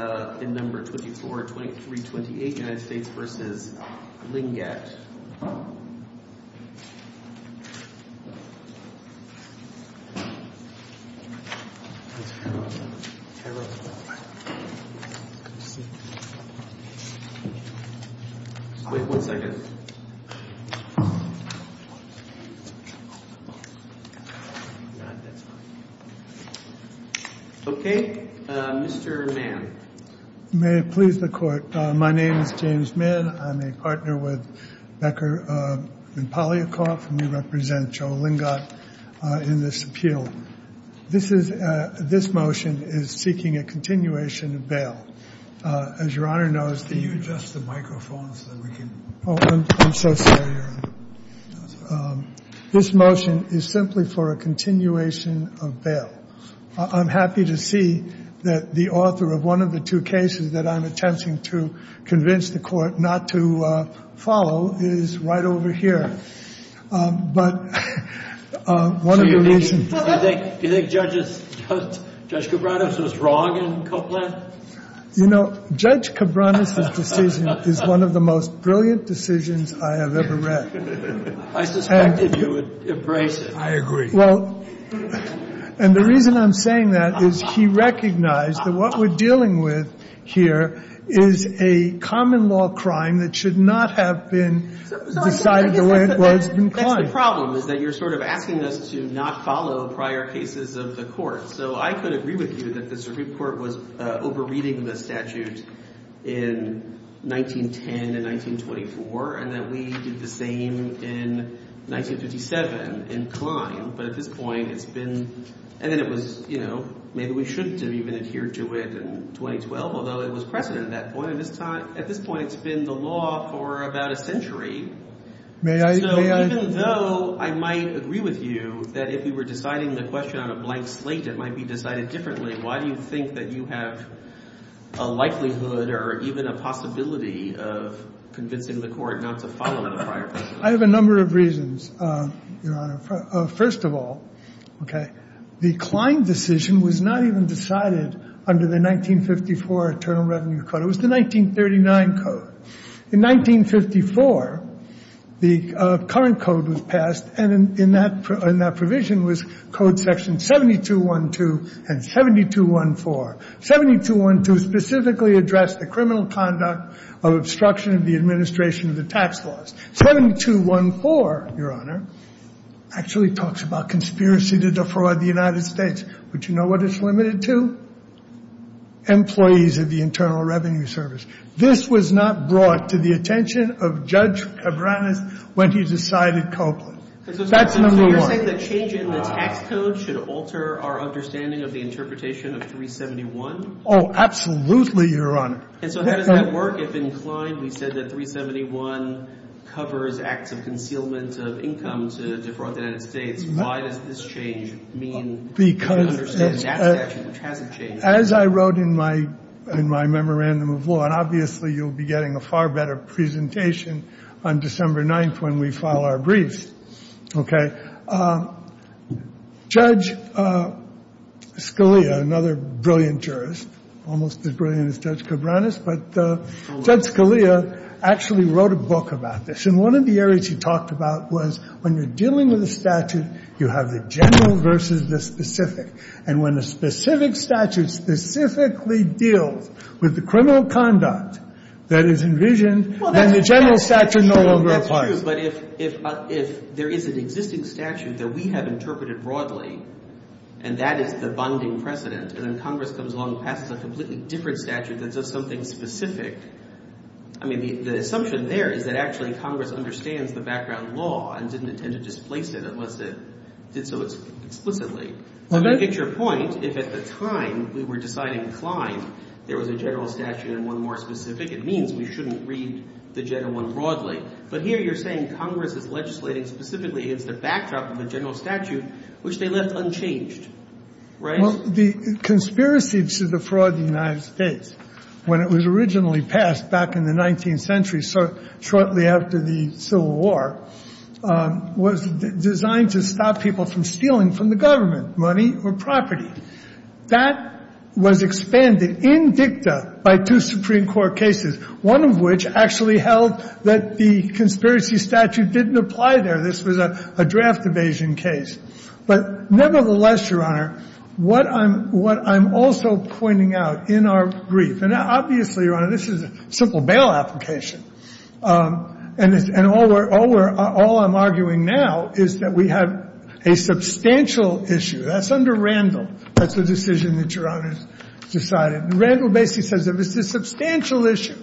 1 second OK, Mr Mann. May it please the Court. My name is James Mann. I'm a partner with Becker and Polyakov. And we represent Joe Lingott in this appeal. This motion is seeking a continuation of bail. As your Honor knows. Can you adjust the microphone so we can hear you. I'm so sorry. This motion is simply for a continuation of bail. I'm happy to see that the author of one of the two cases that I'm attempting to convince the Court not to follow is right over here. Do you think Judge Cabranes was wrong in Copeland? You know, Judge Cabranes' decision is one of the most brilliant decisions I have ever read. I suspected you would embrace it. I agree. And the reason I'm saying that is he recognized that what we're dealing with here is a common law crime that should not have been decided the way it was. That's the problem, is that you're sort of asking us to not follow prior cases of the Court. So I could agree with you that the Supreme Court was over-reading the statute in 1910 and 1924. And that we did the same in 1957 in Klein. But at this point, it's been. And then it was, you know, maybe we shouldn't have even adhered to it in 2012, although it was precedent at that point. At this point, it's been the law for about a century. May I? So even though I might agree with you that if we were deciding the question on a blank slate, it might be decided differently, why do you think that you have a likelihood or even a possibility of convincing the Court not to follow the prior case? I have a number of reasons, Your Honor. First of all, okay, the Klein decision was not even decided under the 1954 Internal Revenue Code. It was the 1939 code. In 1954, the current code was passed, and in that provision was Code Section 7212 and 7214. 7212 specifically addressed the criminal conduct of obstruction of the administration of the tax laws. 7214, Your Honor, actually talks about conspiracy to defraud the United States. But you know what it's limited to? Employees of the Internal Revenue Service. This was not brought to the attention of Judge Cabranes when he decided Copeland. That's number one. So you're saying the change in the tax code should alter our understanding of the interpretation of 371? Oh, absolutely, Your Honor. And so how does that work? If in Klein we said that 371 covers acts of concealment of income to defraud the United States, why does this change mean we understand that statute hasn't changed? As I wrote in my memorandum of law, and obviously you'll be getting a far better presentation on December 9th when we file our briefs, okay, Judge Scalia, another brilliant jurist, almost as brilliant as Judge Cabranes, but Judge Scalia actually wrote a book about this. And one of the areas he talked about was when you're dealing with a statute, you have the general versus the specific. And when a specific statute specifically deals with the criminal conduct that is envisioned, then the general statute no longer applies. Well, that's true, but if there is an existing statute that we have interpreted broadly and that is the bonding precedent, and then Congress comes along and passes a completely different statute that does something specific, I mean, the assumption there is that actually Congress understands the background law and didn't intend to displace it unless it did so explicitly. So to get your point, if at the time we were deciding Klein, there was a general statute and one more specific, it means we shouldn't read the general one broadly. But here you're saying Congress is legislating specifically against the backdrop of the general statute, which they left unchanged, right? Well, the conspiracy to defraud the United States, when it was originally passed back in the 19th century, shortly after the Civil War, was designed to stop people from stealing from the government money or property. That was expanded in dicta by two Supreme Court cases, one of which actually held that the conspiracy statute didn't apply there. This was a draft evasion case. But nevertheless, Your Honor, what I'm also pointing out in our brief, and obviously, Your Honor, this is a simple bail application. And all we're — all I'm arguing now is that we have a substantial issue. That's under Randall. That's the decision that Your Honor has decided. Randall basically says that it's a substantial issue,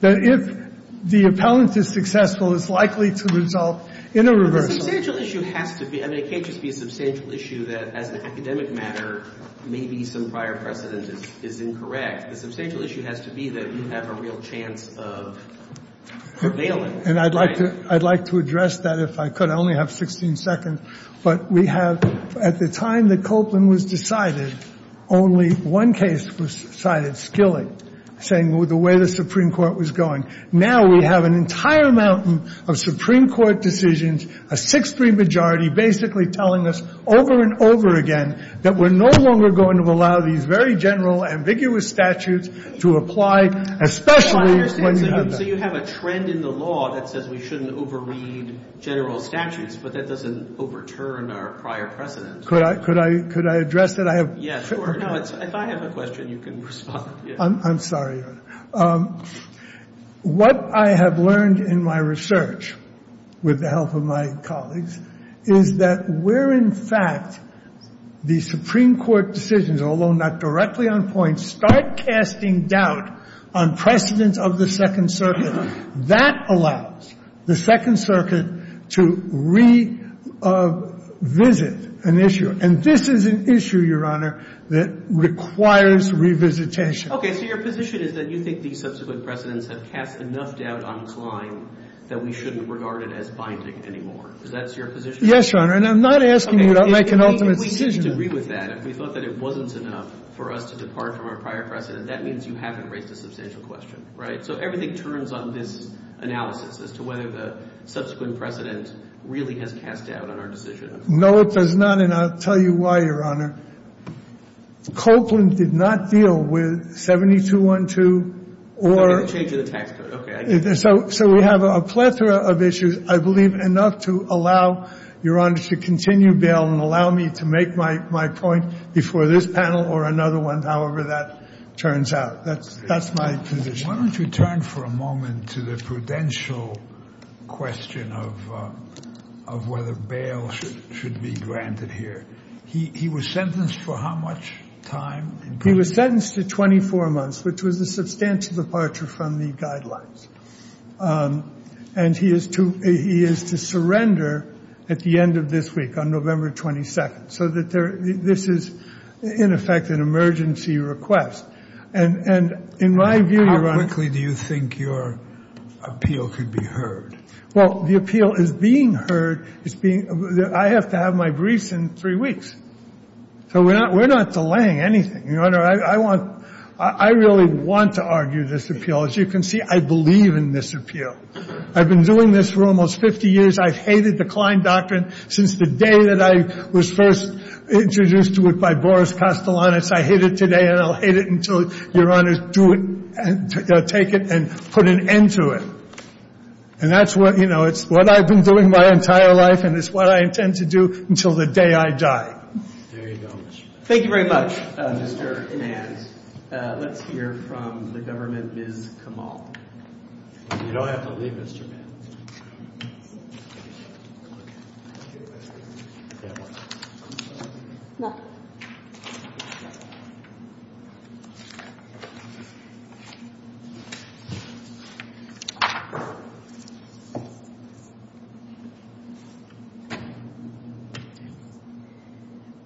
that if the appellant is successful, it's likely to result in a reversal. But the substantial issue has to be — I mean, it can't just be a substantial issue that, as an academic matter, maybe some prior precedent is incorrect. The substantial issue has to be that you have a real chance of prevailing. And I'd like to — I'd like to address that, if I could. I only have 16 seconds. But we have — at the time that Copeland was decided, only one case was cited, Skilling, saying the way the Supreme Court was going. Now we have an entire mountain of Supreme Court decisions, a 6-3 majority, basically telling us over and over again that we're no longer going to allow these very general, ambiguous statutes to apply, especially when you have them. So you have a trend in the law that says we shouldn't overread general statutes, but that doesn't overturn our prior precedent. Could I — could I address that? I have — Yeah, sure. No, it's — if I have a question, you can respond. I'm sorry, Your Honor. What I have learned in my research, with the help of my colleagues, is that where, in fact, the Supreme Court decisions, although not directly on point, start casting doubt on precedent of the Second Circuit, that allows the Second Circuit to revisit an issue. And this is an issue, Your Honor, that requires revisitation. OK. So your position is that you think these subsequent precedents have cast enough doubt on Klein that we shouldn't regard it as binding anymore. Is that your position? Yes, Your Honor. And I'm not asking you to make an ultimate decision. If we didn't agree with that, if we thought that it wasn't enough for us to depart from our prior precedent, that means you haven't raised a substantial question, right? So everything turns on this analysis as to whether the subsequent precedent really has cast doubt on our decision. No, it does not. And I'll tell you why, Your Honor. Copeland did not deal with 7212 or the change of the tax code. So we have a plethora of issues, I believe, enough to allow, Your Honor, to continue bail and allow me to make my point before this panel or another one, however that turns out. That's my position. Why don't you turn for a moment to the prudential question of whether bail should be granted here. He was sentenced for how much time? He was sentenced to 24 months, which was a substantial departure from the guidelines. And he is to surrender at the end of this week, on November 22nd, so that this is, in effect, an emergency request. And in my view, Your Honor — How quickly do you think your appeal could be heard? Well, the appeal is being heard. It's being — I have to have my briefs in three weeks. So we're not — we're not delaying anything, Your Honor. I want — I really want to argue this appeal. As you can see, I believe in this appeal. I've been doing this for almost 50 years. I've hated the Klein Doctrine since the day that I was first introduced to it by Boris Kostelanitz. I hate it today, and I'll hate it until Your Honor do it — take it and put an end to it. And that's what — you know, it's what I've been doing my entire life, and it's what I intend to do until the day I die. There you go. Thank you very much, Mr. Inans. Let's hear from the government, Ms. Kamal. You don't have to leave, Mr. Inans.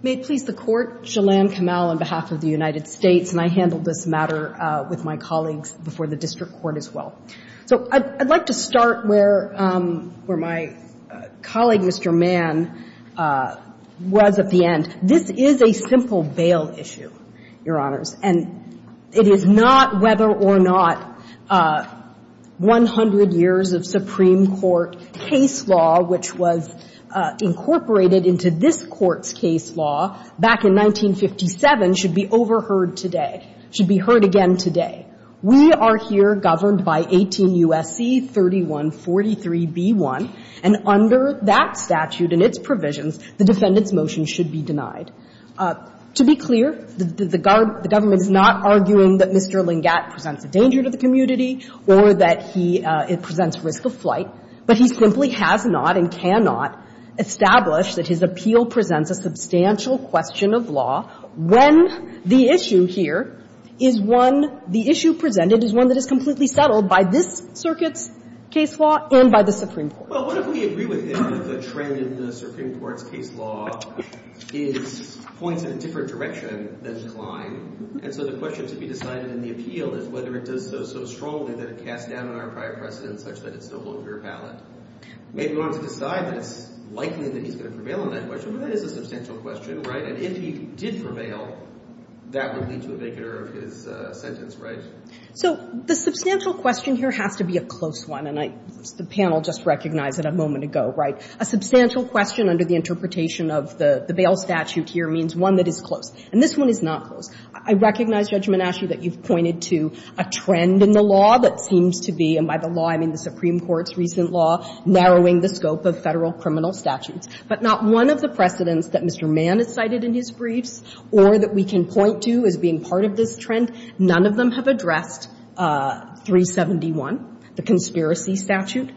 May it please the Court, Jelan Kamal on behalf of the United States, and I handled this matter with my colleagues before the district court as well. So I'd like to start where my colleague, Mr. Mann, was at the end. This is a simple bail issue, Your Honors, and it is not whether or not 100 years of Supreme Court case law, which was incorporated into this Court's case law back in 1957, should be overheard today, should be heard again today. We are here governed by 18 U.S.C. 3143b1, and under that statute and its provisions, the defendant's motion should be denied. To be clear, the government is not arguing that Mr. Lingatt presents a danger to the community or that he presents risk of flight, but he simply has not and cannot establish that his appeal presents a substantial question of law when the issue here is one the issue presented is one that is completely settled by this circuit's case law and by the Supreme Court. Well, what if we agree with him that the trend in the Supreme Court's case law is points in a different direction than Klein? And so the question to be decided in the appeal is whether it does so so strongly that it casts doubt on our prior precedents such that it's no longer valid. Maybe we want to decide that it's likely that he's going to prevail on that question, but that is a substantial question, right? And if he did prevail, that would lead to a vacant error of his sentence, right? So the substantial question here has to be a close one, and I think the panel just recognized it a moment ago, right? A substantial question under the interpretation of the bail statute here means one that is close. And this one is not close. I recognize, Judge Menascu, that you've pointed to a trend in the law that seems to be, and by the law I mean the Supreme Court's recent law, narrowing the scope of Federal criminal statutes. But not one of the precedents that Mr. Mann has cited in his briefs or that we can point to as being part of this trend, none of them have addressed 371, the conspiracy statute.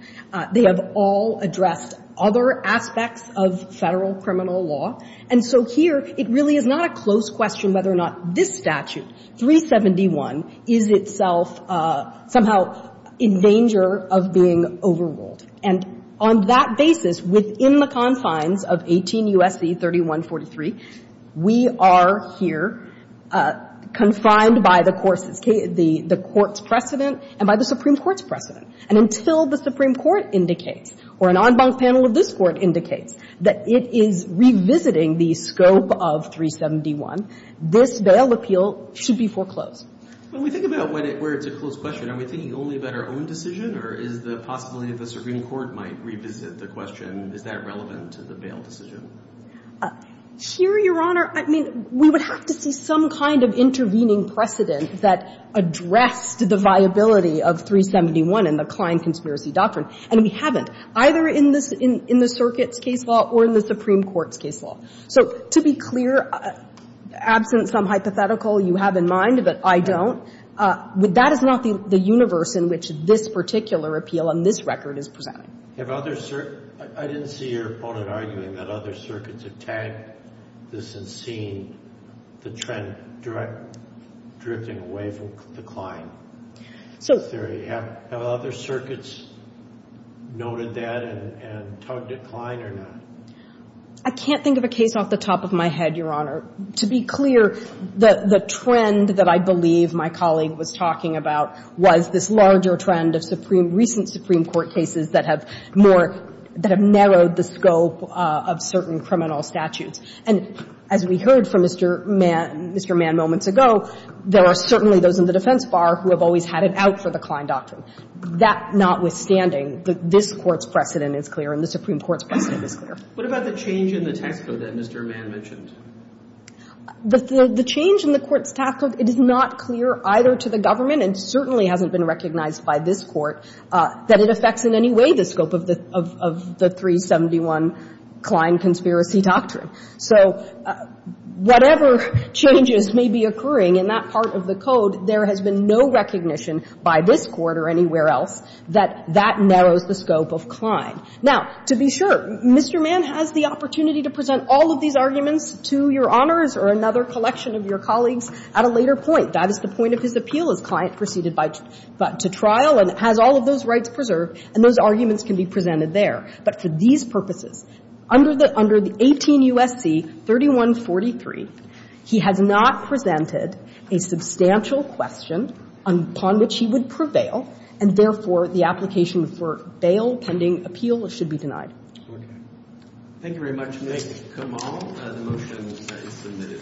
They have all addressed other aspects of Federal criminal law. And so here, it really is not a close question whether or not this statute, 371, is itself somehow in danger of being overruled. And on that basis, within the confines of 18 U.S.C. 3143, we are here confined by the court's precedent and by the Supreme Court's precedent. And until the Supreme Court indicates or an en banc panel of this Court indicates that it is revisiting the scope of 371, this bail appeal should be foreclosed. When we think about where it's a close question, are we thinking only about our own decision, or is the possibility that the Supreme Court might revisit the question, is that relevant to the bail decision? Here, Your Honor, I mean, we would have to see some kind of intervening precedent that addressed the viability of 371 in the Klein conspiracy doctrine. And we haven't, either in the circuit's case law or in the Supreme Court's case law. So to be clear, absent some hypothetical you have in mind, but I don't, that is not the universe in which this particular appeal on this record is presenting. Have other circuits – I didn't see your opponent arguing that other circuits have tagged this and seen the trend drifting away from the Klein theory. Have other circuits noted that and tugged at Klein or not? I can't think of a case off the top of my head, Your Honor. To be clear, the trend that I believe my colleague was talking about was this larger trend of recent Supreme Court cases that have more, that have narrowed the scope of certain criminal statutes. And as we heard from Mr. Mann moments ago, there are certainly those in the defense bar who have always had it out for the Klein doctrine. That notwithstanding, this Court's precedent is clear and the Supreme Court's precedent is clear. What about the change in the tax code that Mr. Mann mentioned? The change in the court's tax code, it is not clear either to the government and certainly hasn't been recognized by this Court that it affects in any way the scope of the 371 Klein conspiracy doctrine. So whatever changes may be occurring in that part of the code, there has been no recognition by this Court or anywhere else that that narrows the scope of Klein. Now, to be sure, Mr. Mann has the opportunity to present all of these arguments to Your Honors or another collection of your colleagues at a later point. That is the point of his appeal. His client proceeded to trial and has all of those rights preserved. And those arguments can be presented there. But for these purposes, under the 18 U.S.C. 3143, he has not presented a substantial question upon which he would prevail, and therefore the application for bail pending appeal should be denied. Thank you very much, Nick. Kamal, the motion is submitted.